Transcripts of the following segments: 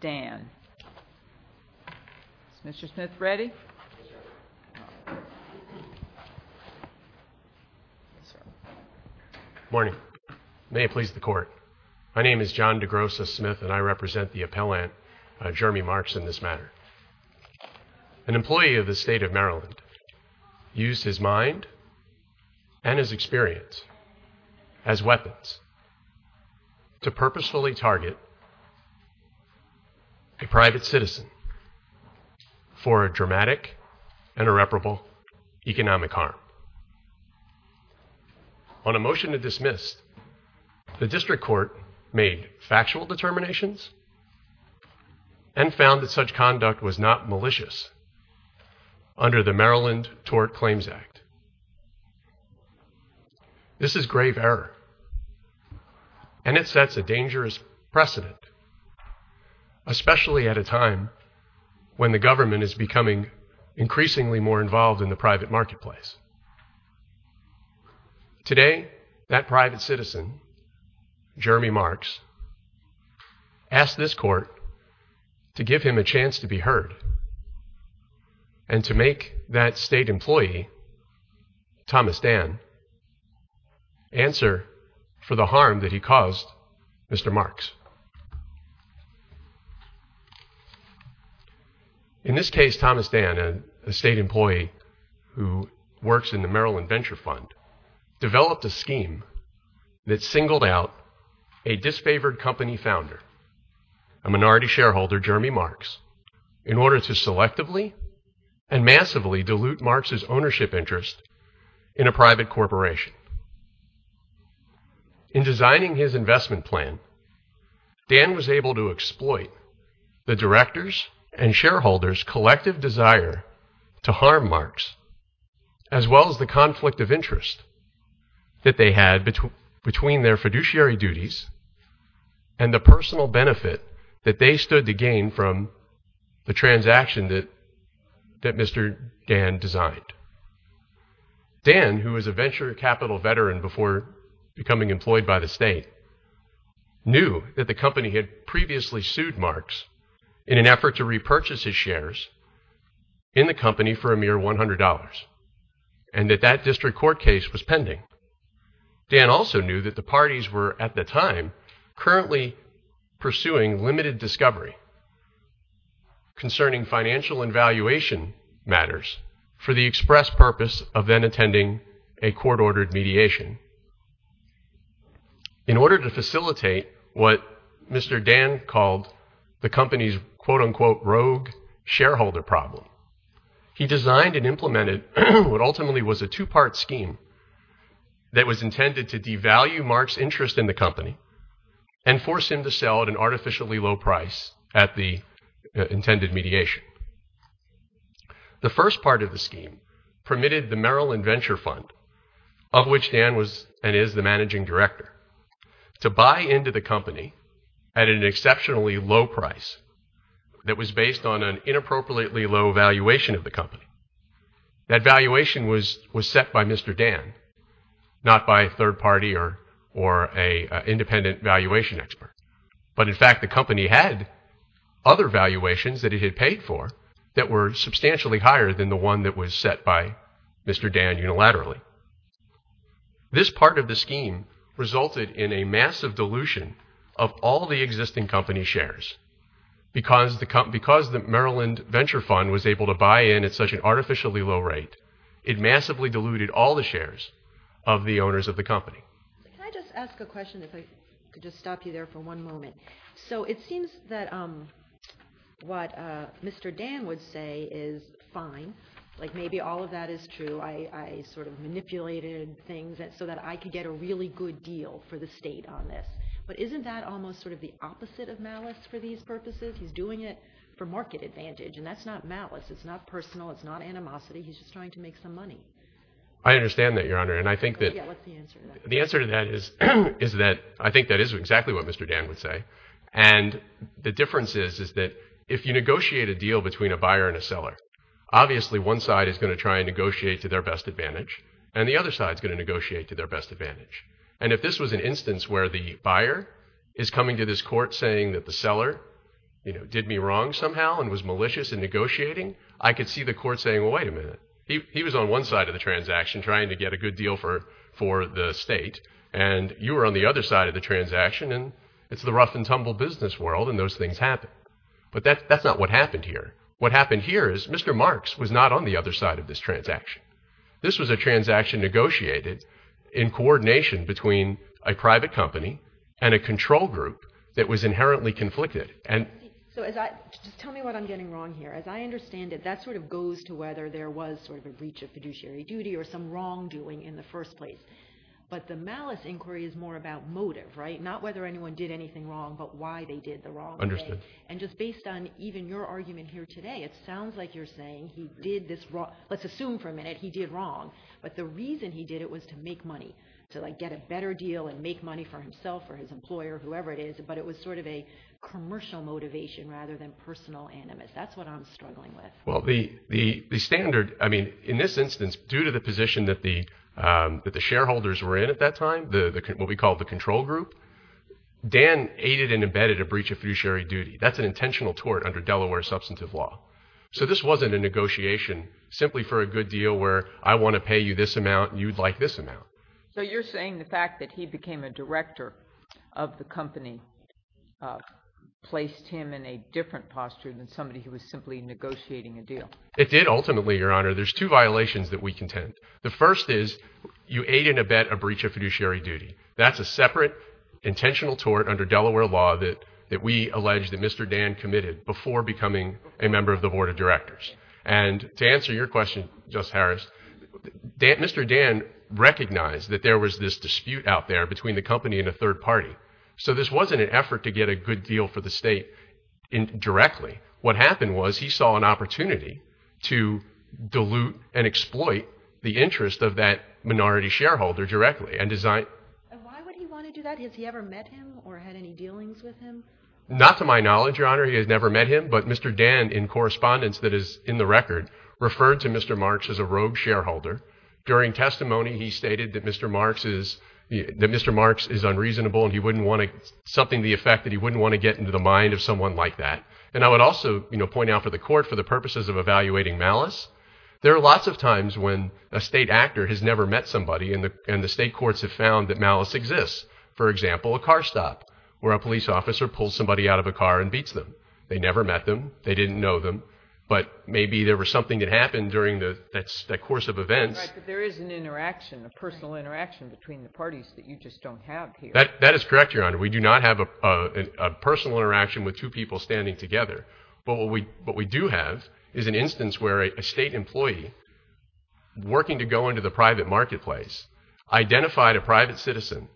Good morning. May it please the court. My name is John DeGrosso Smith and I represent the appellant, Jeremy Marks, in this matter. An employee of the state of Maryland used his mind and his experience as weapons to purposefully target a private citizen for a dramatic and irreparable economic harm. On a motion to dismiss, the district court made factual determinations and found that such conduct was not malicious under the Maryland Tort Claims Act. This is grave error and it sets a dangerous precedent, especially at a time when the government is becoming increasingly more involved in the private marketplace. Today, that private citizen, Jeremy Marks, asked this court to give him a chance to be heard and to make that state employee, Thomas Dann, answer for the harm that he caused Mr. Marks. In this case, Thomas Dann, a state employee who works in the Maryland Venture Fund, developed a scheme that singled out a disfavored company founder, a minority shareholder, Jeremy Marks, in order to selectively and massively dilute Marks' ownership interest in a private corporation. In designing his investment plan, Dann was able to exploit the directors' and shareholders' collective desire to harm Marks, as well as the conflict of interest that they had between their transaction that Mr. Dann designed. Dann, who was a venture capital veteran before becoming employed by the state, knew that the company had previously sued Marks in an effort to repurchase his shares in the company for a mere $100, and that that district court case was pending. Dann also knew that the parties were, at the time, currently pursuing limited discovery concerning financial and valuation matters for the express purpose of then attending a court-ordered mediation. In order to facilitate what Mr. Dann called the company's quote-unquote rogue shareholder problem, he designed and implemented what ultimately was a two-part scheme that was intended to devalue Marks' interest in the company and force him to sell at an artificially low price at the intended mediation. The first part of the scheme permitted the Maryland Venture Fund, of which Dann was and is the managing director, to buy into the company at an exceptionally low price that was based on an inappropriately low valuation of the company. That valuation was set by Mr. Dann, not by a third party or an independent valuation expert, but in fact the company had other valuations that it had paid for that were substantially higher than the one that was set by Mr. Dann unilaterally. This part of the scheme resulted in a massive dilution of all the existing company shares. Because the Maryland Venture Fund was able to buy in at such an artificially low rate, it massively diluted all the shares of the owners of the company. Can I just ask a question if I could just stop you there for one moment? So it seems that what Mr. Dann would say is fine, like maybe all of that is true, I sort of manipulated things so that I could get a really good deal for the state on this. But isn't that almost sort of the opposite of malice for these purposes? He's doing it for market advantage and that's not malice, it's not personal, it's not animosity, he's just trying to make some money. I understand that, Your Honor, and I think that the answer to that is that I think that is exactly what Mr. Dann would say. And the difference is that if you negotiate a deal between a buyer and a seller, obviously one side is going to try and negotiate to their best advantage, and the other side is going to negotiate to their best advantage. And if this was an instance where the buyer is coming to this court saying that the seller did me wrong somehow and was malicious in negotiating, I could see the court saying, well, wait a minute, he was on one side of the transaction trying to get a good deal for the state and you were on the other side of the transaction and it's the rough and tumble business world and those things happen. But that's not what happened here. What happened here is Mr. Marks was not on the other side of this transaction. This was a transaction negotiated in coordination between a private company and a control group that was inherently conflicted. So just tell me what I'm getting wrong here. As I understand it, that sort of goes to whether there was sort of a breach of fiduciary duty or some wrongdoing in the first place. But the malice inquiry is more about motive, right? Not whether anyone did anything wrong, but why they did the wrong thing. Understood. And just based on even your argument here today, it sounds like you're saying he did this wrong. Let's assume for a minute he did wrong. But the reason he did it was to make money, to get a better deal and make money for himself or his employer, whoever it is. But it was sort of a commercial motivation rather than personal animus. That's what I'm struggling with. Well, the standard, I mean, in this instance, due to the position that the shareholders were in at that time, what we call the control group, Dan aided and embedded a breach of fiduciary duty. That's an intentional tort under Delaware substantive law. So this wasn't a negotiation simply for a good deal where I want to pay you this amount and you'd like this amount. So you're saying the fact that he became a director of the company placed him in a different posture than somebody who was simply negotiating a deal? It did ultimately, Your Honor. There's two violations that we contend. The first is you aid and embed a breach of fiduciary duty. That's a separate intentional tort under Delaware law that we allege that Mr. Dan committed before becoming a member of the board of directors. And to answer your question, Justice Harris, Mr. Dan recognized that there was this dispute out there between the company and a third party. So this wasn't an effort to get a good deal for the state directly. What happened was he saw an opportunity to dilute and exploit the interest of that minority shareholder directly and design... And why would he want to do that? Has he ever met him or had any dealings with him? Not to my knowledge, Your Honor. He has never met him. But Mr. Dan, in correspondence that is in the record, referred to Mr. Marks as a rogue shareholder. During testimony he stated that Mr. Marks is unreasonable and something to the effect that he wouldn't want to get into the mind of someone like that. And I would also point out for the court, for the purposes of evaluating malice, there are lots of times when a state actor has never met somebody and the state courts have found that malice exists. For example, a car stop where a police officer pulls somebody out of a car and beats them. They never met them. They didn't know them. But maybe there was something that happened during that course of events... But there is an interaction, a personal interaction between the parties that you just don't have here. That is correct, Your Honor. We do not have a personal interaction with two people standing together. But what we do have is an instance where a state employee, working to go into the private marketplace, identified a private citizen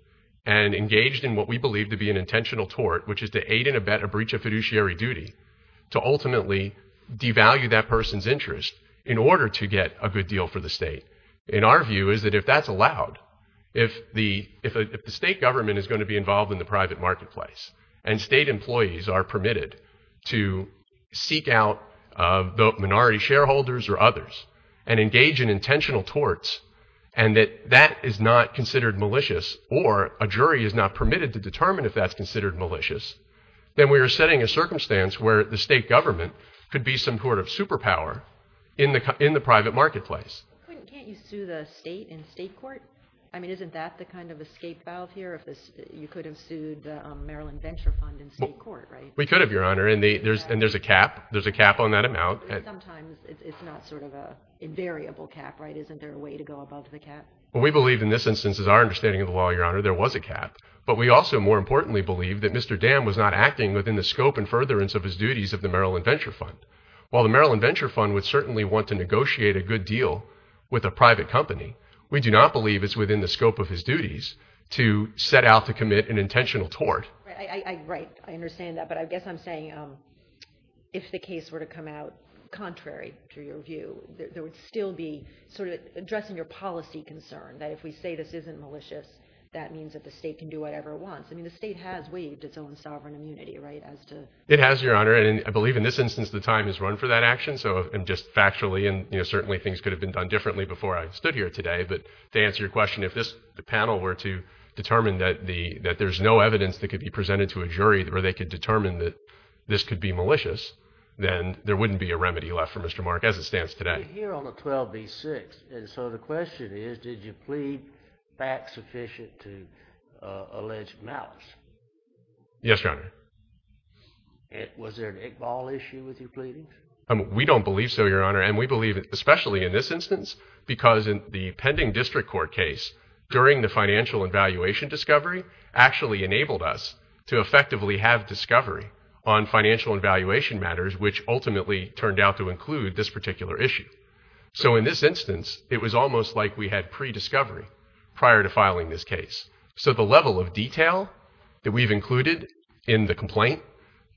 and engaged in what we believe to be an intentional tort, which is to aid and abet a breach of fiduciary duty, to ultimately devalue that person's interest in order to get a good deal for the state. In our view is that if that's allowed, if the state government is going to be involved in the private marketplace and state employees are permitted to seek out the minority shareholders or others and engage in intentional torts and that that is not considered malicious or a jury is not permitted to determine if that's considered malicious, then we are setting a circumstance where the state government could be some sort of superpower in the private marketplace. But can't you sue the state in state court? I mean, isn't that the kind of escape valve here? You could have sued the Maryland Venture Fund in state court, right? We could have, Your Honor. And there's a cap. There's a cap on that amount. But sometimes it's not sort of an invariable cap, right? Isn't there a way to go above the cap? We believe in this instance, as our understanding of the law, Your Honor, there was a cap, but we also more importantly believe that Mr. Dam was not acting within the scope and furtherance of his duties of the Maryland Venture Fund. While the Maryland Venture Fund would certainly want to negotiate a good deal with a private company, we do not believe it's within the scope of his duties to set out to commit an intentional tort. Right. I understand that. But I guess I'm saying if the case were to come out contrary to your view, there would still be sort of addressing your policy concern that if we say this isn't malicious, that means that the state can do whatever it wants. I mean, the state has waived its own sovereign immunity, right? It has, Your Honor. And I believe in this instance, the time has run for that action. So just factually, and certainly things could have been done differently before I stood here today. But to answer your question, if this panel were to determine that there's no evidence that could be presented to a jury where they could determine that this could be malicious, then there wouldn't be a remedy left for Mr. Mark as it stands today. You're here on the 12b-6. And so the question is, did you plead fact-sufficient to alleged malice? Yes, Your Honor. Was there an Iqbal issue with you pleading? We don't believe so, Your Honor. And we believe, especially in this instance, because in the pending district court case, during the financial and valuation discovery, actually enabled us to effectively have discovery on financial and valuation matters, which ultimately turned out to include this particular issue. So in this instance, it was almost like we had pre-discovery prior to filing this case. So the level of detail that we've included in the complaint,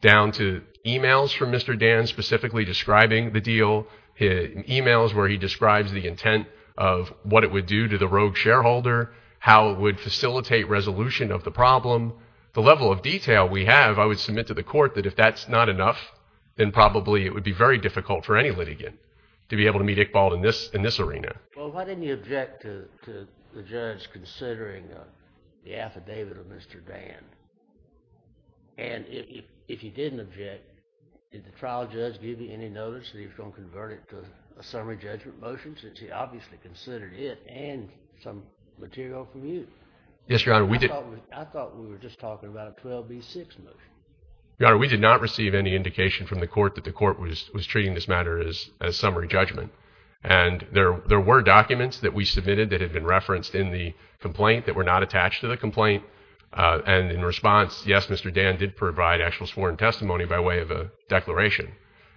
down to emails from Mr. Dan specifically describing the deal, emails where he describes the intent of what it would do to the rogue shareholder, how it would facilitate resolution of the problem, the level of detail we have, I would submit to the court that if that's not enough, then probably it would be very difficult for any litigant to be able to meet Iqbal in this arena. Well, why didn't you object to the judge considering the affidavit of Mr. Dan? And if you didn't object, did the trial judge give you any notice that he was going to convert it to a summary judgment motion, since he obviously considered it and some material from you? Yes, Your Honor. I thought we were just talking about a 12B6 motion. Your Honor, we did not receive any indication from the court that the court was treating this matter as summary judgment. And there were documents that we submitted that had been referenced in the complaint that were not attached to the complaint. And in response, yes, Mr. Dan did provide actual sworn testimony by way of a declaration.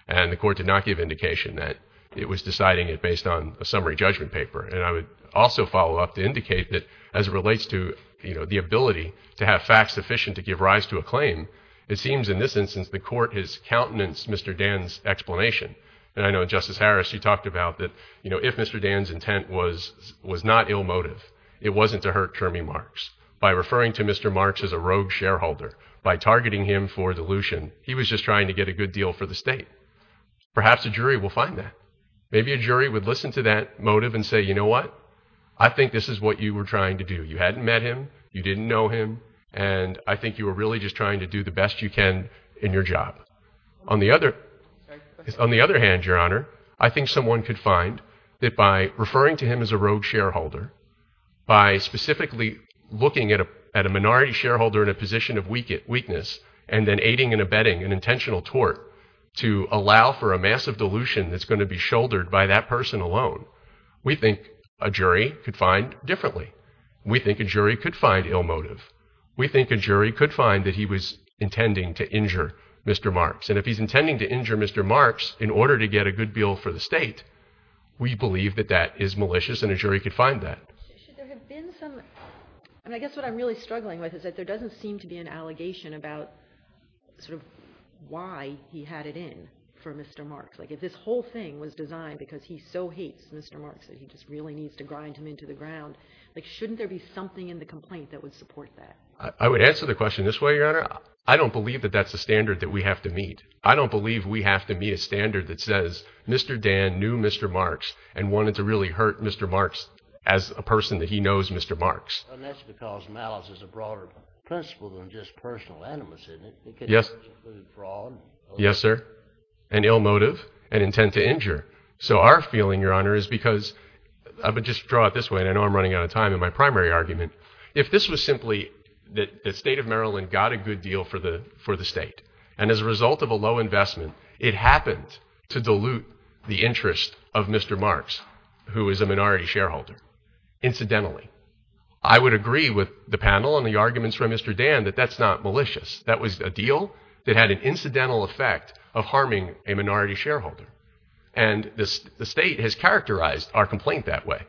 And the court did not give indication that it was deciding it based on a summary judgment paper. And I would also follow up to indicate that as it relates to, you know, the ability to have facts sufficient to give rise to a claim, it seems in this instance the court has countenanced Mr. Dan's explanation. And I know Justice Harris, you talked about that, you know, if Mr. Dan's intent was not ill motive, it wasn't to hurt Termi Marx. By referring to Mr. Marx as a rogue shareholder, by targeting him for dilution, he was just trying to get a good deal for the state. Perhaps a jury will find that. Maybe a jury would listen to that motive and say, you know what, I think this is what you were trying to do. You hadn't met him. You didn't know him. And I think you were really just trying to do the best you can in your job. On the other hand, Your Honor, I think someone could find that by referring to him as a rogue shareholder, by specifically looking at a minority shareholder in a position of weakness and then aiding and abetting an intentional tort to allow for a massive dilution that's going to be shouldered by that person alone. We think a jury could find differently. We think a jury could find ill motive. We think a jury could find that he was intending to injure Mr. Marx. And if he's intending to injure Mr. Marx in order to get a good deal for the state, we believe that that is malicious and a jury could find that. Should there have been some, I mean, I guess what I'm really struggling with is that there should have been something about sort of why he had it in for Mr. Marx. Like if this whole thing was designed because he so hates Mr. Marx that he just really needs to grind him into the ground, like shouldn't there be something in the complaint that would support that? I would answer the question this way, Your Honor. I don't believe that that's the standard that we have to meet. I don't believe we have to meet a standard that says Mr. Dan knew Mr. Marx and wanted to really hurt Mr. Marx as a person that he knows Mr. Marx. And that's because malice is a broader principle than just personal animosity. Yes, yes, sir. An ill motive, an intent to injure. So our feeling, Your Honor, is because I would just draw it this way, and I know I'm running out of time in my primary argument. If this was simply that the state of Maryland got a good deal for the for the state and as a result of a low investment, it happened to dilute the interest of Mr. Marx, who is a minority shareholder, incidentally. I would agree with the panel and the arguments from Mr. Dan that that's not malicious. That was a deal that had an incidental effect of harming a minority shareholder. And the state has characterized our complaint that way.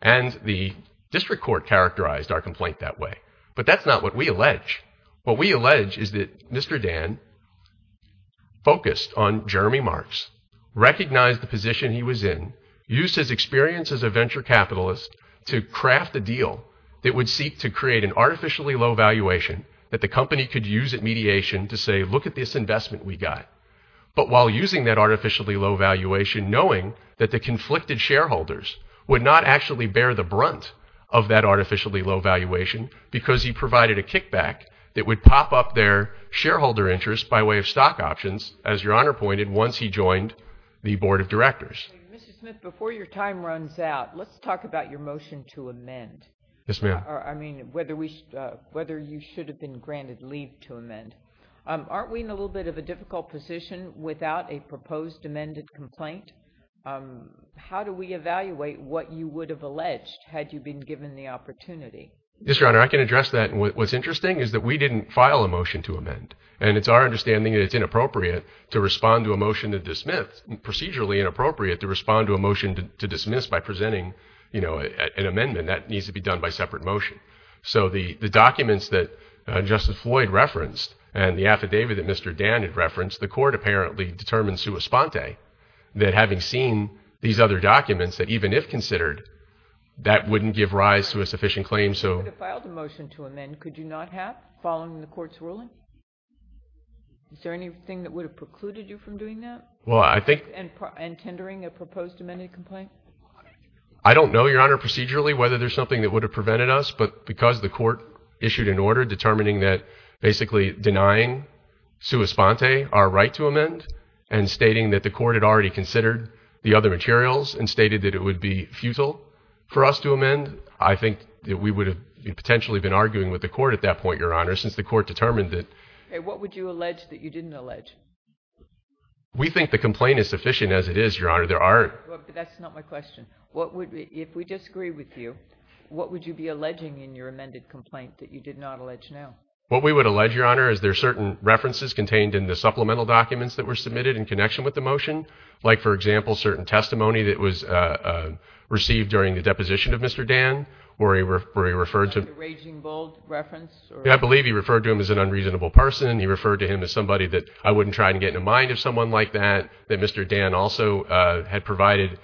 And the district court characterized our complaint that way. But that's not what we allege. What we allege is that Mr. Dan focused on Jeremy Marx, recognized the position he was in, used his experience as a venture capitalist to craft a deal that would seek to create an artificially low valuation that the company could use at mediation to say, look at this investment we got. But while using that artificially low valuation, knowing that the conflicted shareholders would not actually bear the brunt of that artificially low valuation because he provided a kickback that would pop up their shareholder interest by way of stock options. As Your Honor pointed, once he joined the Board of Directors. Mr. Smith, before your time runs out, let's talk about your motion to amend. Yes, ma'am. I mean, whether you should have been granted leave to amend. Aren't we in a little bit of a difficult position without a proposed amended complaint? How do we evaluate what you would have alleged had you been given the opportunity? Yes, Your Honor, I can address that. What's interesting is that we didn't file a motion to amend. And it's our understanding that it's inappropriate to respond to a motion to dismiss, procedurally inappropriate to respond to a motion to dismiss by presenting, you know, an amendment. That needs to be done by separate motion. So the documents that Justice Floyd referenced and the affidavit that Mr. Dan had referenced, the court apparently determined sua sponte that having seen these other documents that even if considered, that wouldn't give rise to a sufficient claim. If you would have filed a motion to amend, could you not have, following the court's ruling? Is there anything that would have precluded you from doing that? Well, I think... And tendering a proposed amended complaint? I don't know, Your Honor, procedurally, whether there's something that would have prevented us. But because the court issued an order determining that basically denying sua sponte our right to amend and stating that the court had already considered the other materials and stated that it would be futile for us to amend, I think that we would have potentially been arguing with the court at that point, Your Honor, since the court determined that... What would you allege that you didn't allege? We think the complaint is sufficient as it is, Your Honor. There are... That's not my question. What would... If we disagree with you, what would you be alleging in your amended complaint that you did not allege now? What we would allege, Your Honor, is there are certain references contained in the supplemental documents that were submitted in connection with the motion, like, for example, certain testimony that was received during the deposition of Mr. Dan, where he referred to... Like a raging bull reference? Yeah, I believe he referred to him as an unreasonable person. He referred to him as somebody that I wouldn't try to get in the mind of someone like that, that Mr. Dan also had provided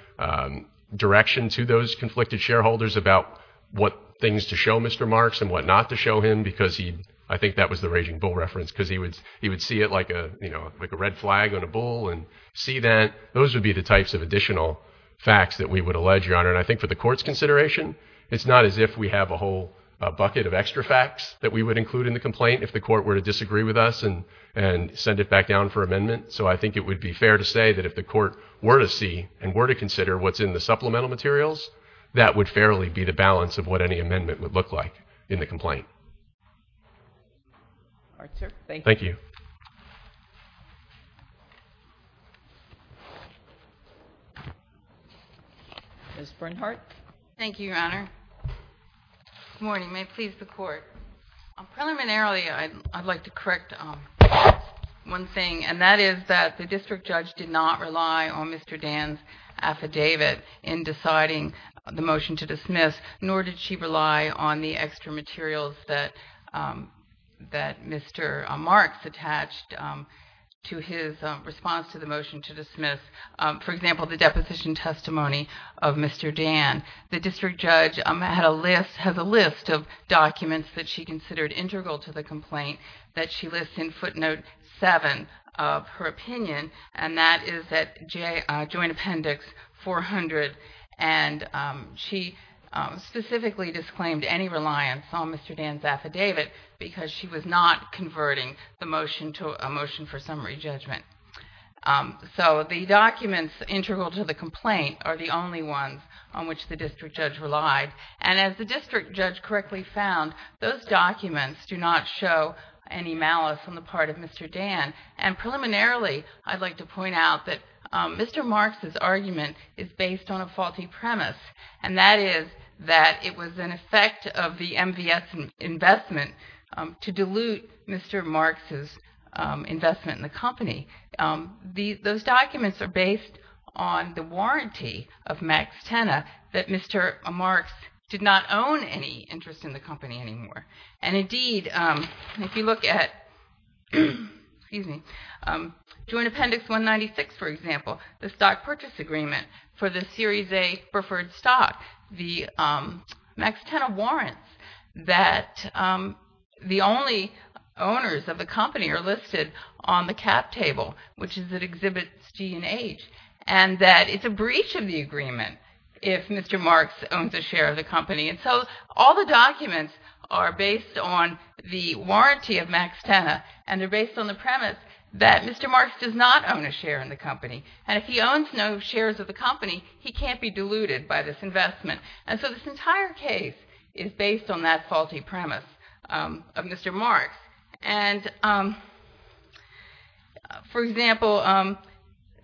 direction to those conflicted shareholders about what things to show Mr. Marks and what not to show him, because he... I think that was the raging bull reference, because he would see it like a red flag on a bull and see that. Those would be the types of additional facts that we would allege, Your Honor, and I think for the court's consideration, it's not as if we have a whole bucket of extra facts that we would include in the complaint if the court were to disagree with us and send it back down for amendment. So I think it would be fair to say that if the court were to see and were to consider what's in the supplemental materials, that would fairly be the balance of what any amendment would look like in the complaint. All right, sir. Thank you. Thank you. Ms. Bernhardt. Thank you, Your Honor. Good morning. May it please the court. Preliminarily, I'd like to correct one thing, and that is that the district judge did not rely on Mr. Dan's affidavit in deciding the motion to dismiss, nor did she rely on the For example, the deposition testimony of Mr. Dan. The district judge has a list of documents that she considered integral to the complaint that she lists in footnote seven of her opinion, and that is at Joint Appendix 400, and she specifically disclaimed any reliance on Mr. Dan's affidavit because she was not converting the motion to a motion for summary judgment. The documents integral to the complaint are the only ones on which the district judge relied. As the district judge correctly found, those documents do not show any malice on the part of Mr. Dan, and preliminarily, I'd like to point out that Mr. Marks' argument is based on a faulty premise, and that is that it was an effect of the MVS investment to dilute Mr. Marks' investment in the company. Those documents are based on the warranty of Max Tenna that Mr. Marks did not own any interest in the company anymore, and indeed, if you look at Joint Appendix 196, for example, the stock purchase agreement for the Series A preferred stock, the Max Tenna warrants that the only owners of the company are listed on the cap table, which is at Exhibits D and H, and that it's a breach of the agreement if Mr. Marks owns a share of the company, and so all the documents are based on the warranty of Max Tenna, and they're based on the premise that Mr. Marks does not own a share in the company, and if he owns no shares of the company, he can't be diluted by this investment. And so this entire case is based on that faulty premise of Mr. Marks, and for example,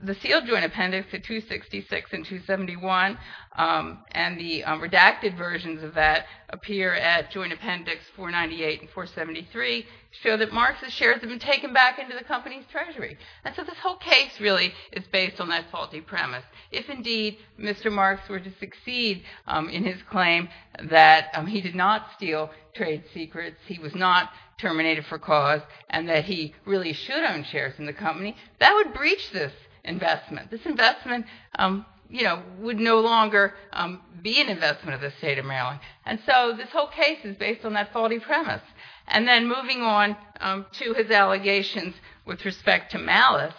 the sealed Joint Appendix at 266 and 271, and the redacted versions of that appear at Joint Appendix 498 and 473, show that Marks' shares have been taken back into the company's treasury, and so this whole case really is based on that faulty premise. If indeed Mr. Marks were to succeed in his claim that he did not steal trade secrets, he was not terminated for cause, and that he really should own shares in the company, that would breach this investment. This investment, you know, would no longer be an investment of the state of Maryland, and so this whole case is based on that faulty premise. And then moving on to his allegations with respect to malice,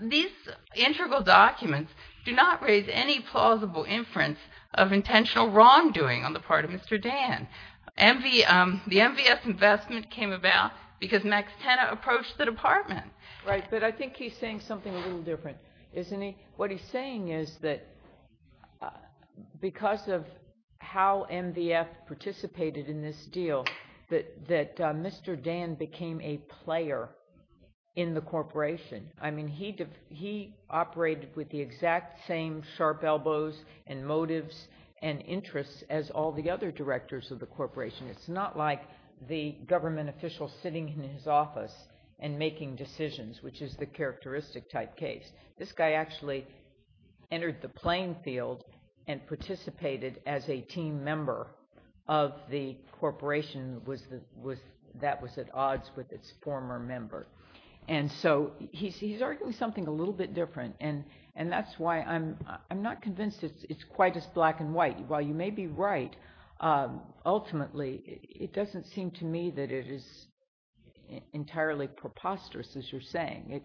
these integral documents do not raise any plausible inference of intentional wrongdoing on the part of Mr. Dan. The MVF investment came about because Max Tena approached the Department. Right, but I think he's saying something a little different, isn't he? What he's saying is that because of how MVF participated in this deal, that Mr. Dan became a player in the corporation. I mean, he operated with the exact same sharp elbows and motives and interests as all the other directors of the corporation. It's not like the government official sitting in his office and making decisions, which is the characteristic type case. This guy actually entered the playing field and participated as a team member of the corporation that was at odds with its former member. And so he's arguing something a little bit different, and that's why I'm not convinced it's quite as black and white. While you may be right, ultimately, it doesn't seem to me that it is entirely preposterous, as you're saying.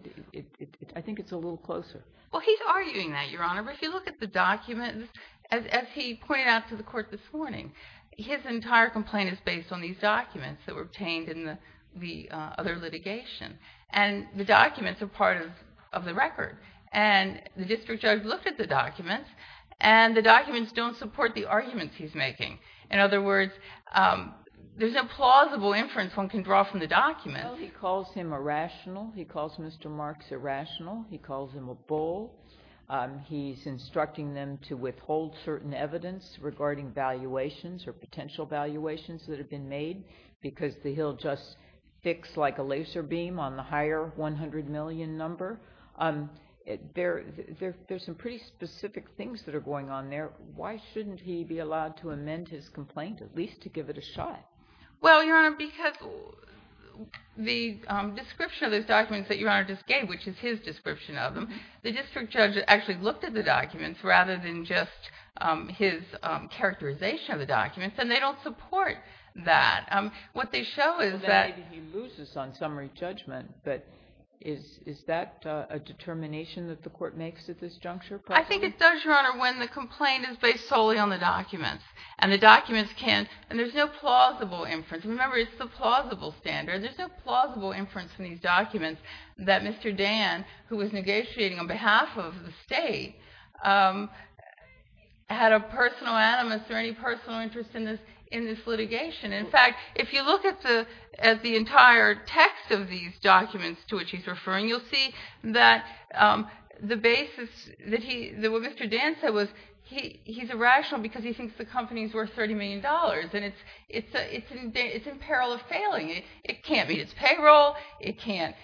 I think it's a little closer. Well, he's arguing that, Your Honor, but if you look at the documents, as he pointed out to the court this morning, his entire complaint is based on these documents that were obtained in the other litigation. And the documents are part of the record. And the district judge looked at the documents, and the documents don't support the arguments he's making. In other words, there's no plausible inference one can draw from the documents. Well, he calls him irrational. He calls Mr. Marks irrational. He calls him a bull. He's instructing them to withhold certain evidence regarding valuations or potential valuations that have been made, because he'll just fix like a laser beam on the higher $100 million number. There's some pretty specific things that are going on there. Why shouldn't he be allowed to amend his complaint, at least to give it a shot? Well, Your Honor, because the description of those documents that Your Honor just gave, which is his description of them, the district judge actually looked at the documents rather than just his characterization of the documents, and they don't support that. What they show is that— So then he loses on summary judgment, but is that a determination that the court makes at this juncture? I think it does, Your Honor, when the complaint is based solely on the documents. The documents can't—and there's no plausible inference. Remember, it's the plausible standard. There's no plausible inference in these documents that Mr. Dan, who was negotiating on behalf of the state, had a personal animus or any personal interest in this litigation. In fact, if you look at the entire text of these documents to which he's referring, you'll see that the basis that he—what Mr. Dan said was he's irrational because he thinks the company's worth $30 million, and it's in peril of failing. It can't meet its payroll, it can't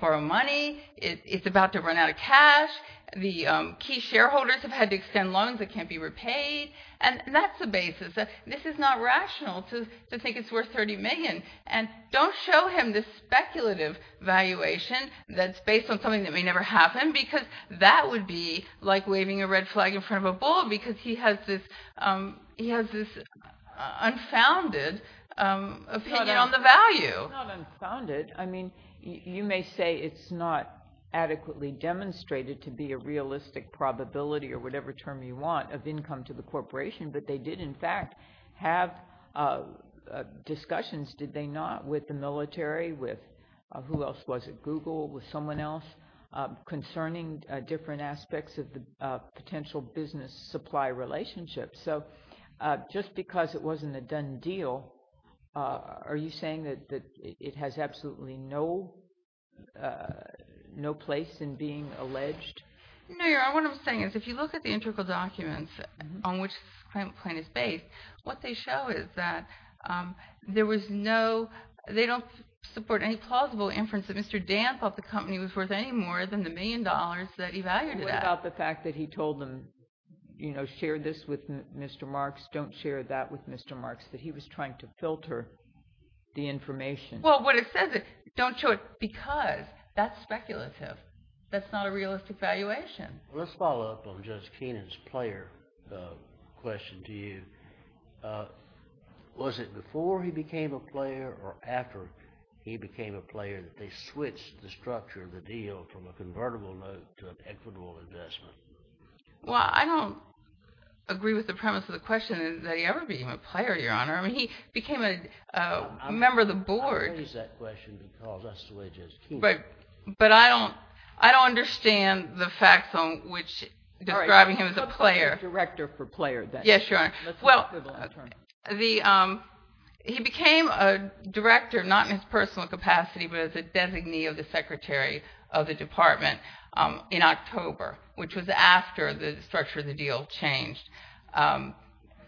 borrow money, it's about to run out of cash, the key shareholders have had to extend loans that can't be repaid, and that's the basis. This is not rational to think it's worth $30 million, and don't show him this speculative valuation that's based on something that may never happen, because that would be like waving a red flag in front of a bull, because he has this unfounded opinion on the value. It's not unfounded. I mean, you may say it's not adequately demonstrated to be a realistic probability, or whatever term you want, of income to the corporation, but they did, in fact, have discussions, did they? Who else was it? Google? Was someone else? Concerning different aspects of the potential business supply relationship. So just because it wasn't a done deal, are you saying that it has absolutely no place in being alleged? No, Your Honor. What I'm saying is, if you look at the integral documents on which this claim is based, what they show is that there was no, they don't support any plausible inference that Mr. Dan thought the company was worth any more than the $1 million that he valued it at. What about the fact that he told them, you know, share this with Mr. Marks, don't share that with Mr. Marks, that he was trying to filter the information? Well, what it says is, don't show it, because that's speculative, that's not a realistic valuation. Let's follow up on Judge Keenan's player question to you. Was it before he became a player, or after he became a player, that they switched the structure of the deal from a convertible note to an equitable investment? Well, I don't agree with the premise of the question, that he ever became a player, Your Honor. I mean, he became a member of the board. I'm going to use that question, because that's the way Judge Keenan is. But I don't understand the facts on which describing him as a player. Let's look at the director for player, then. Yes, Your Honor. Let's look for the long-term. Well, he became a director, not in his personal capacity, but as a designee of the secretary of the department in October, which was after the structure of the deal changed.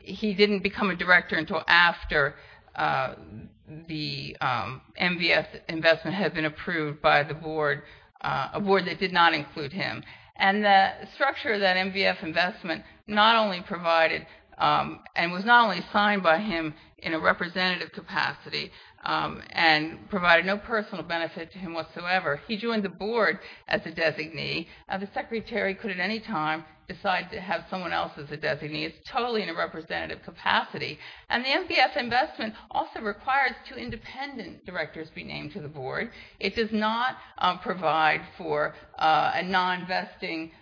He didn't become a director until after the MVF investment had been approved by the board, a board that did not include him. And the structure of that MVF investment not only provided, and was not only signed by him in a representative capacity, and provided no personal benefit to him whatsoever, he joined the board as a designee, and the secretary could at any time decide to have someone else as a designee. It's totally in a representative capacity. And the MVF investment also requires two independent directors be named to the board. It does not provide for a non-vesting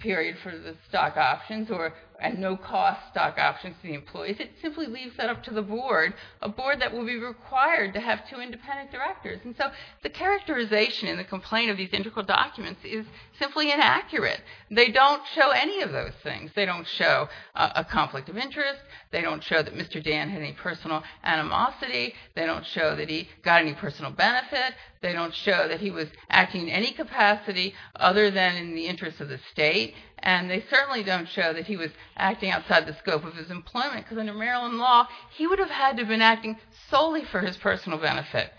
period for the stock options, and no-cost stock options to the employees. It simply leaves that up to the board, a board that will be required to have two independent directors. And so the characterization in the complaint of these integral documents is simply inaccurate. They don't show any of those things. They don't show a conflict of interest, they don't show that Mr. Dan had any personal animosity, they don't show that he got any personal benefit, they don't show that he was acting in any capacity other than in the interest of the state, and they certainly don't show that he was acting outside the scope of his employment, because under Maryland law, he would have had to have been acting solely for his personal benefit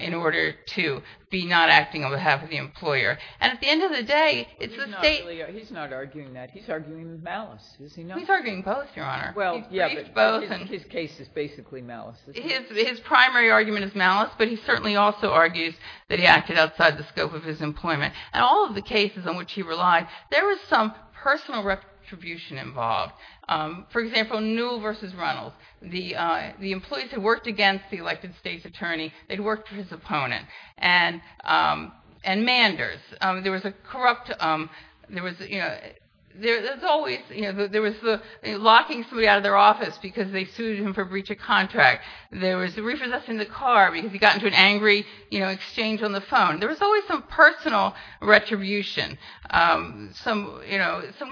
in order to be not acting on behalf of the employer. And at the end of the day, it's the state... He's not arguing that, he's arguing malice. He's arguing both, your honor. Well, yeah, but his case is basically malice. His primary argument is malice, but he certainly also argues that he acted outside the scope of his employment. And all of the cases on which he relied, there was some personal retribution involved. For example, Newell v. Reynolds, the employees who worked against the elected state's attorney, they'd worked for his opponent. And Manders, there was a corrupt... There was always... Locking somebody out of their office because they sued him for breach of contract. There was repossessing the car because he got into an angry exchange on the phone. There was always some personal retribution, some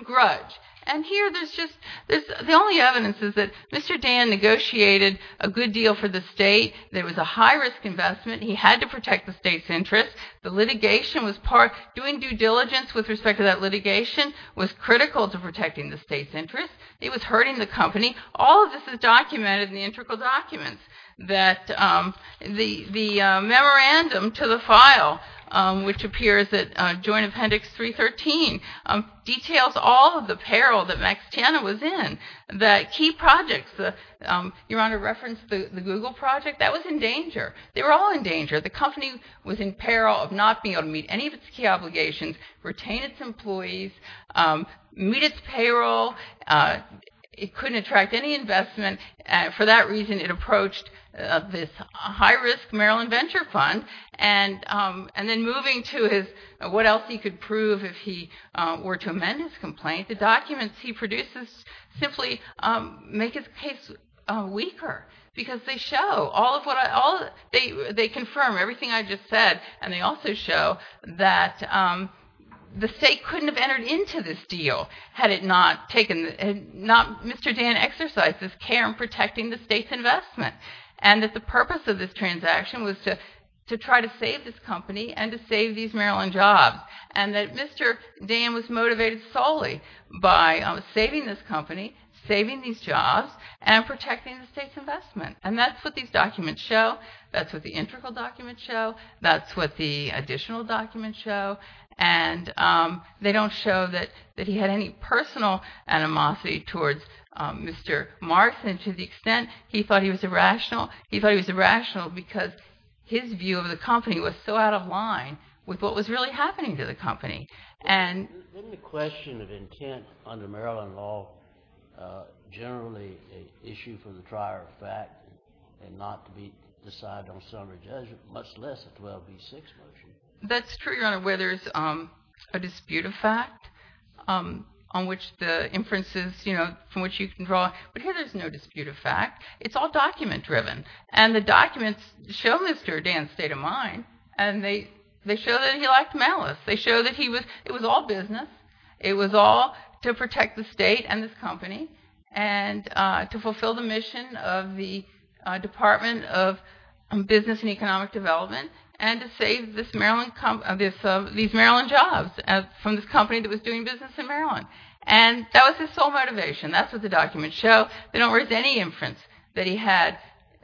grudge. And here, there's just... The only evidence is that Mr. Dan negotiated a good deal for the state. There was a high-risk investment. He had to protect the state's interest. The litigation was part... Doing due diligence with respect to that litigation was critical to protecting the state's interest. It was hurting the company. All of this is documented in the integral documents. That the memorandum to the file, which appears at Joint Appendix 313, details all of the peril that Max Tana was in. The key projects... Your Honor referenced the Google project. That was in danger. They were all in danger. The company was in peril of not being able to meet any of its key obligations, retain its employees, meet its payroll. It couldn't attract any investment. For that reason, it approached this high-risk Maryland venture fund. And then moving to his... What else he could prove if he were to amend his complaint. The documents he produces simply make his case weaker. Because they show all of what I... They confirm everything I just said. And they also show that the state couldn't have entered into this deal had it not taken... Mr. Dan exercised this care in protecting the state's investment. And that the purpose of this transaction was to try to save this company and to save these Maryland jobs. And that Mr. Dan was motivated solely by saving this company, saving these jobs, and protecting the state's investment. And that's what these documents show. That's what the integral documents show. That's what the additional documents show. And they don't show that he had any personal animosity towards Mr. Marks. And to the extent he thought he was irrational, he thought he was irrational because his view of the company was so out of line with what was really happening to the company. Isn't the question of intent under Maryland law generally an issue for the trier of fact and not to be decided on summary judgment, much less a 12B6 motion? That's true, Your Honor, where there's a dispute of fact on which the inferences from which you can draw... But here there's no dispute of fact. It's all document-driven. And the documents show Mr. Dan's state of mind. And they show that he lacked malice. They show that it was all business. It was all to protect the state and this company and to fulfill the mission of the Department of Business and Economic Development and to save these Maryland jobs from this company that was doing business in Maryland. And that was his sole motivation. That's what the documents show. They don't raise any inference that he had...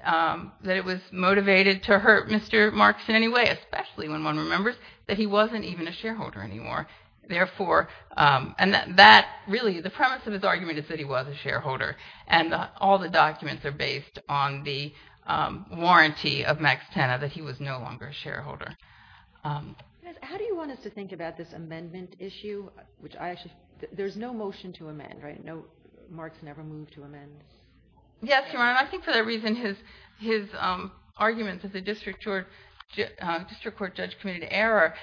that it was motivated to hurt Mr. Marks in any way, especially when one remembers that he wasn't even a shareholder anymore. And that really, the premise of his argument is that he was a shareholder. And all the documents are based on the warranty of Max Tena, that he was no longer a shareholder. How do you want us to think about this amendment issue? There's no motion to amend, right? So Marks never moved to amend? Yes, Your Honor. I think for that reason, his argument that the district court judge committed error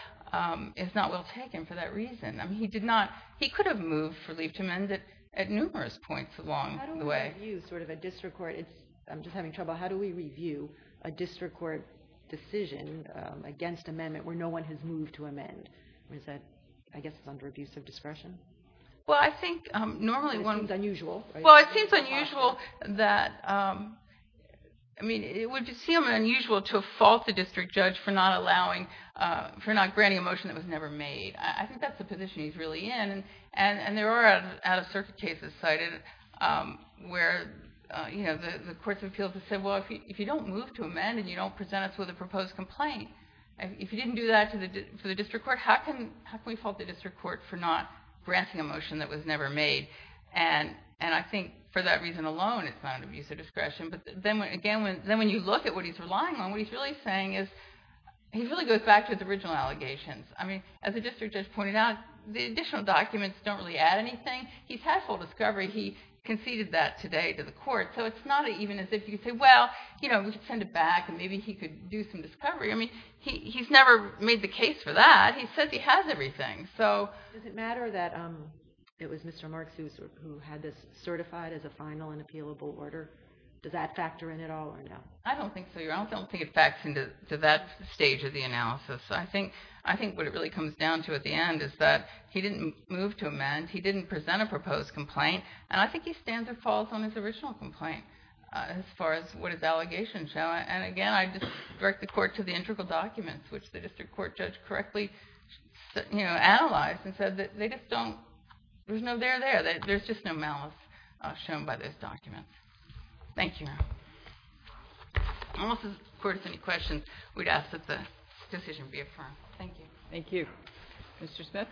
is not well taken for that reason. I mean, he did not... he could have moved for leave to amend at numerous points along the way. How do we review sort of a district court... I'm just having trouble. How do we review a district court decision against amendment where no one has moved to amend? I guess it's under abuse of discretion? Well, I think normally... It seems unusual. Well, it seems unusual that... I mean, it would seem unusual to fault the district judge for not granting a motion that was never made. I think that's the position he's really in. And there are out-of-circuit cases cited where the courts of appeals have said, well, if you don't move to amend and you don't present us with a proposed complaint, if you didn't do that for the district court, how can we fault the district court for not granting a motion that was never made? And I think for that reason alone, it's not an abuse of discretion. But then again, when you look at what he's relying on, what he's really saying is... he really goes back to his original allegations. I mean, as the district judge pointed out, the additional documents don't really add anything. He's had full discovery. He conceded that today to the court. So it's not even as if you could say, well, you know, we should send it back and maybe he could do some discovery. I mean, he's never made the case for that. He says he has everything, so... Does it matter that it was Mr. Marks who had this certified as a final and appealable order? Does that factor in at all or no? I don't think so, Your Honor. I don't think it facts into that stage of the analysis. I think what it really comes down to at the end is that he didn't move to amend, he didn't present a proposed complaint, and I think he stands or falls on his original complaint as far as what his allegations show. And again, I'd just direct the court to the integral documents, which the district court judge correctly, you know, analyzed and said that they just don't... There's no there there. There's just no malice shown by those documents. Thank you, Your Honor. Unless the court has any questions, we'd ask that the decision be affirmed. Thank you. Thank you. Mr. Smith?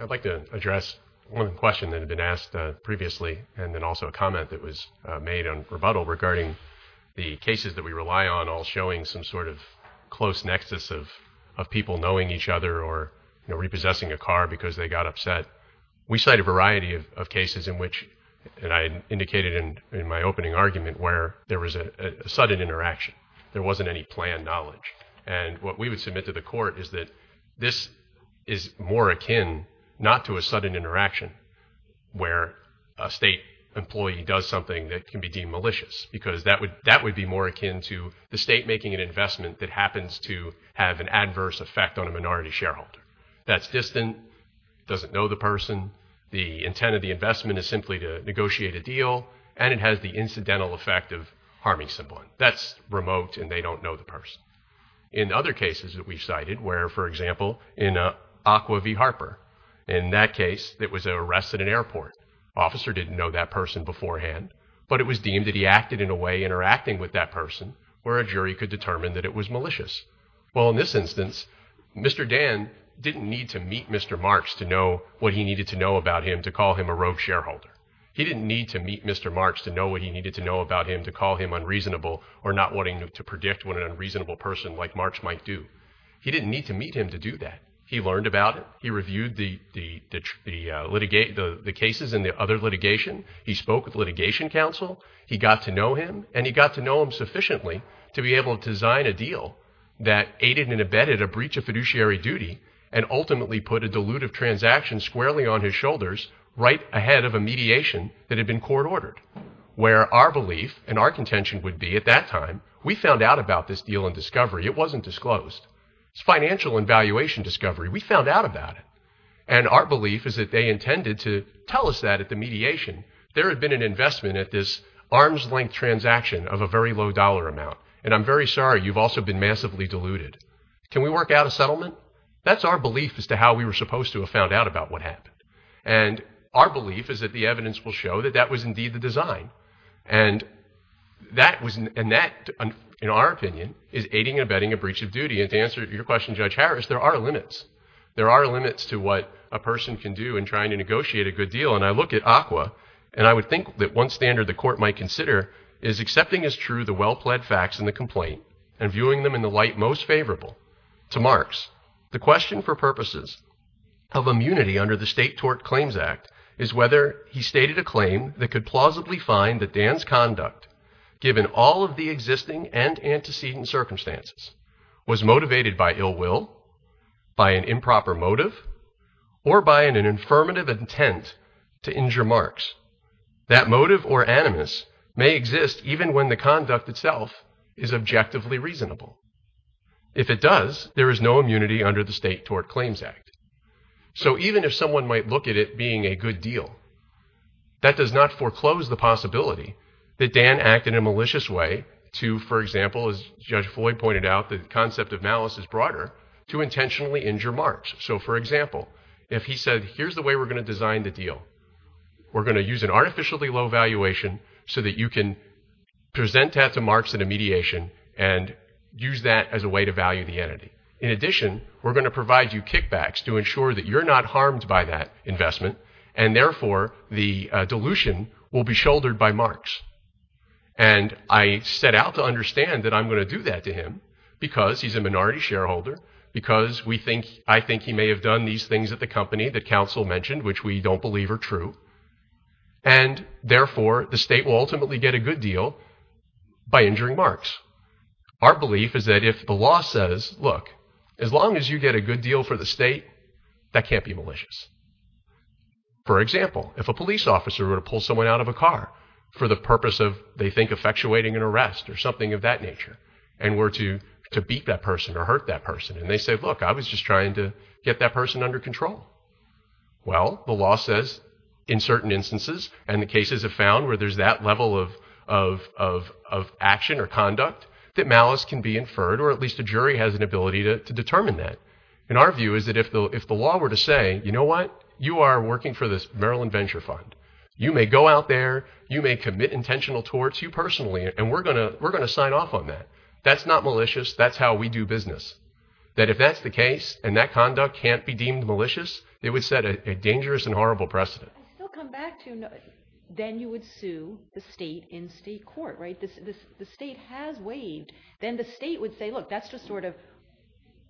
I'd like to address one question that had been asked previously and then also a comment that was made on rebuttal regarding the cases that we rely on all showing some sort of close nexus of people knowing each other or, you know, repossessing a car because they got upset. We cite a variety of cases in which, between two individuals who were in a car, and there was a sudden interaction between two individuals and there wasn't any planned knowledge. And what we would submit to the court is that this is more akin not to a sudden interaction where a state employee does something that can be deemed malicious because that would be more akin to the state making an investment that happens to have an adverse effect on a minority shareholder. That's distant, doesn't know the person, the intent of the investment is simply to negotiate a deal, and it has the incidental effect of harming someone. That's remote, and they don't know the person. In other cases that we've cited, where, for example, in Aqua v. Harper, in that case, it was an arrest at an airport. Officer didn't know that person beforehand, but it was deemed that he acted in a way interacting with that person where a jury could determine that it was malicious. Well, in this instance, Mr. Dan didn't need to meet Mr. Marks to know what he needed to know about him to call him a rogue shareholder. He didn't need to meet Mr. Marks to know what he needed to know about him to call him unreasonable or not wanting to predict what an unreasonable person like Marks might do. He didn't need to meet him to do that. He learned about it. He reviewed the cases in the other litigation. He spoke with litigation counsel. He got to know him, and he got to know him sufficiently to be able to design a deal that aided and abetted a breach of fiduciary duty and ultimately put a dilutive transaction squarely on his shoulders right ahead of a mediation that had been court-ordered, where our belief and our contention would be at that time, we found out about this deal in discovery. It wasn't disclosed. It's financial and valuation discovery. We found out about it, and our belief is that they intended to tell us that at the mediation. There had been an investment at this arm's-length transaction of a very low dollar amount, and I'm very sorry. You've also been massively diluted. Can we work out a settlement? That's our belief as to how we were supposed to have found out about what happened, and our belief is that the evidence will show that that was indeed the design, and that, in our opinion, is aiding and abetting a breach of duty, and to answer your question, Judge Harris, there are limits. There are limits to what a person can do in trying to negotiate a good deal, and I look at ACWA, and I would think that one standard the Court might consider is accepting as true the well-pled facts in the complaint and viewing them in the light most favorable. To Marx, the question for purposes of immunity under the State Tort Claims Act is whether he stated a claim that could plausibly find that Dan's conduct, given all of the existing and antecedent circumstances, was motivated by ill will, by an improper motive, or by an affirmative intent to injure Marx. That motive or animus may exist even when the conduct itself is objectively reasonable. If it does, there is no immunity under the State Tort Claims Act. So even if someone might look at it being a good deal, that does not foreclose the possibility that Dan acted in a malicious way to, for example, as Judge Floyd pointed out, the concept of malice is broader, to intentionally injure Marx. So, for example, if he said, here's the way we're going to design the deal. We're going to use an artificially low valuation so that you can present that to Marx in a mediation and use that as a way to value the entity. In addition, we're going to provide you kickbacks to ensure that you're not harmed by that investment and therefore the dilution will be shouldered by Marx. And I set out to understand that I'm going to do that to him because he's a minority shareholder, because I think he may have done these things at the company that counsel mentioned, which we don't believe are true, and therefore the state will ultimately get a good deal by injuring Marx. Our belief is that if the law says, look, as long as you get a good deal for the state, that can't be malicious. For example, if a police officer were to pull someone out of a car for the purpose of, they think, effectuating an arrest or something of that nature, and were to beat that person or hurt that person and they say, look, I was just trying to get that person under control. Well, the law says in certain instances, and the cases have found where there's that level of action or conduct, that malice can be inferred, or at least a jury has an ability to determine that. And our view is that if the law were to say, you know what, you are working for this Maryland Venture Fund. You may go out there, you may commit intentional torts, you personally, and we're going to sign off on that. That's not malicious. That's how we do business. That if that's the case, and that conduct can't be deemed malicious, it would set a dangerous and horrible precedent. Then you would sue the state in state court, right? The state has waived. Then the state would say, look, that's just sort of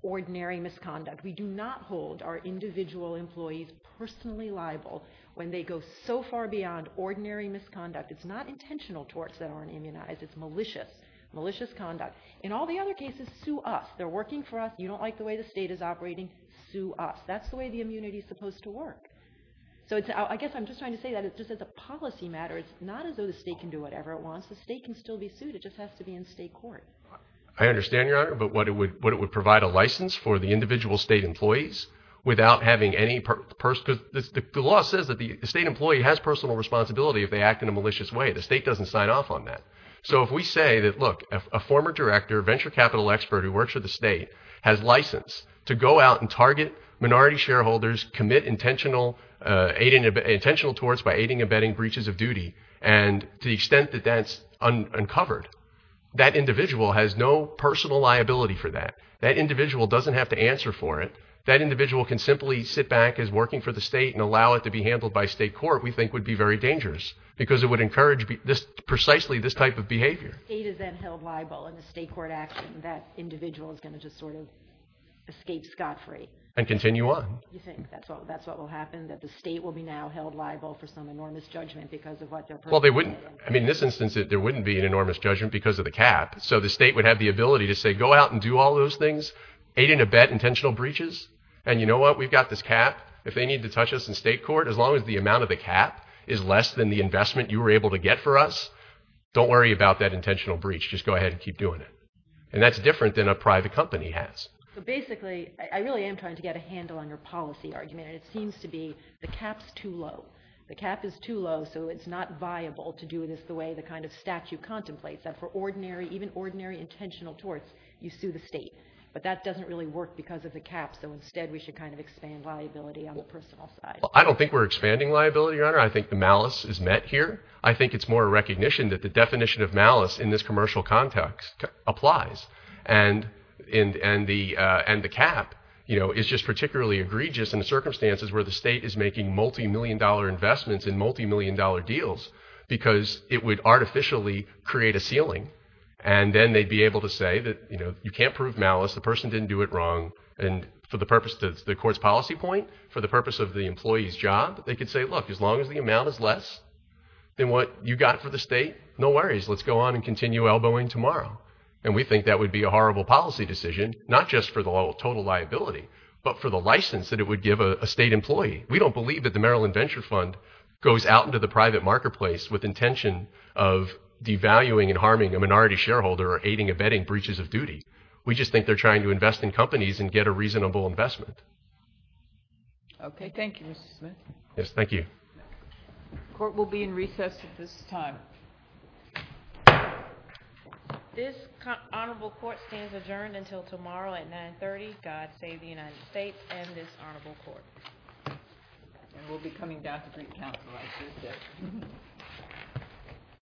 ordinary misconduct. We do not hold our individual employees personally liable when they go so far beyond ordinary misconduct. It's not intentional torts that aren't immunized. It's malicious. Malicious conduct. In all the other cases, sue us. They're working for us. You don't like the way the state is operating, sue us. That's the way the immunity is supposed to work. So I guess I'm just trying to say that just as a policy matter, it's not as though the state can do whatever it wants. The state can still be sued. It just has to be in state court. I understand, Your Honor, but what it would provide a license for the individual state employees without having any personal... because the law says that the state employee has personal responsibility if they act in a malicious way. The state doesn't sign off on that. So if we say that, look, a former director, a venture capital expert who works for the state, has license to go out and target minority shareholders, commit intentional torts by aiding and abetting breaches of duty, and to the extent that that's uncovered, that individual has no personal liability for that. That individual doesn't have to answer for it. That individual can simply sit back as working for the state and allow it to be handled by state court, we think would be very dangerous because it would encourage precisely this type of behavior. State is then held liable in the state court action that individual is going to just sort of escape scot-free. And continue on. You think that's what will happen, that the state will be now held liable for some enormous judgment because of what their personal... Well, they wouldn't. I mean, in this instance, there wouldn't be an enormous judgment because of the cap. So the state would have the ability to say, go out and do all those things, aid and abet intentional breaches, and you know what? We've got this cap. If they need to touch us in state court, as long as the amount of the cap is less than the investment you were able to get for us, don't worry about that intentional breach. Just go ahead and keep doing it. And that's different than a private company has. So basically, I really am trying to get a handle on your policy argument, and it seems to be the cap's too low. The cap is too low, so it's not viable to do this the way the kind of statute contemplates that for ordinary, even ordinary intentional torts, you sue the state. But that doesn't really work because of the cap, so instead we should kind of expand liability on the personal side. I don't think we're expanding liability, Your Honor. I think the malice is met here. I think it's more recognition that the definition of malice in this commercial context applies. And the cap is just particularly egregious in the circumstances where the state is making multi-million dollar investments in multi-million dollar deals because it would artificially create a ceiling. And then they'd be able to say that you can't prove malice, the person didn't do it wrong, and for the purpose of the court's policy point, for the purpose of the employee's job, they could say, look, as long as the amount is less than what you got for the state, no worries, let's go on and continue elbowing tomorrow. And we think that would be a horrible policy decision, not just for the total liability, but for the license that it would give a state employee. We don't believe that the Maryland Venture Fund goes out into the private marketplace with intention of devaluing and harming a minority shareholder or aiding or abetting breaches of duty. We just think they're trying to invest in companies and get a reasonable investment. Okay, thank you, Mr. Smith. Yes, thank you. The court will be in recess at this time. This honorable court stands adjourned until tomorrow at 9.30. God save the United States and this honorable court. And we'll be coming down to Greek Council on Tuesday.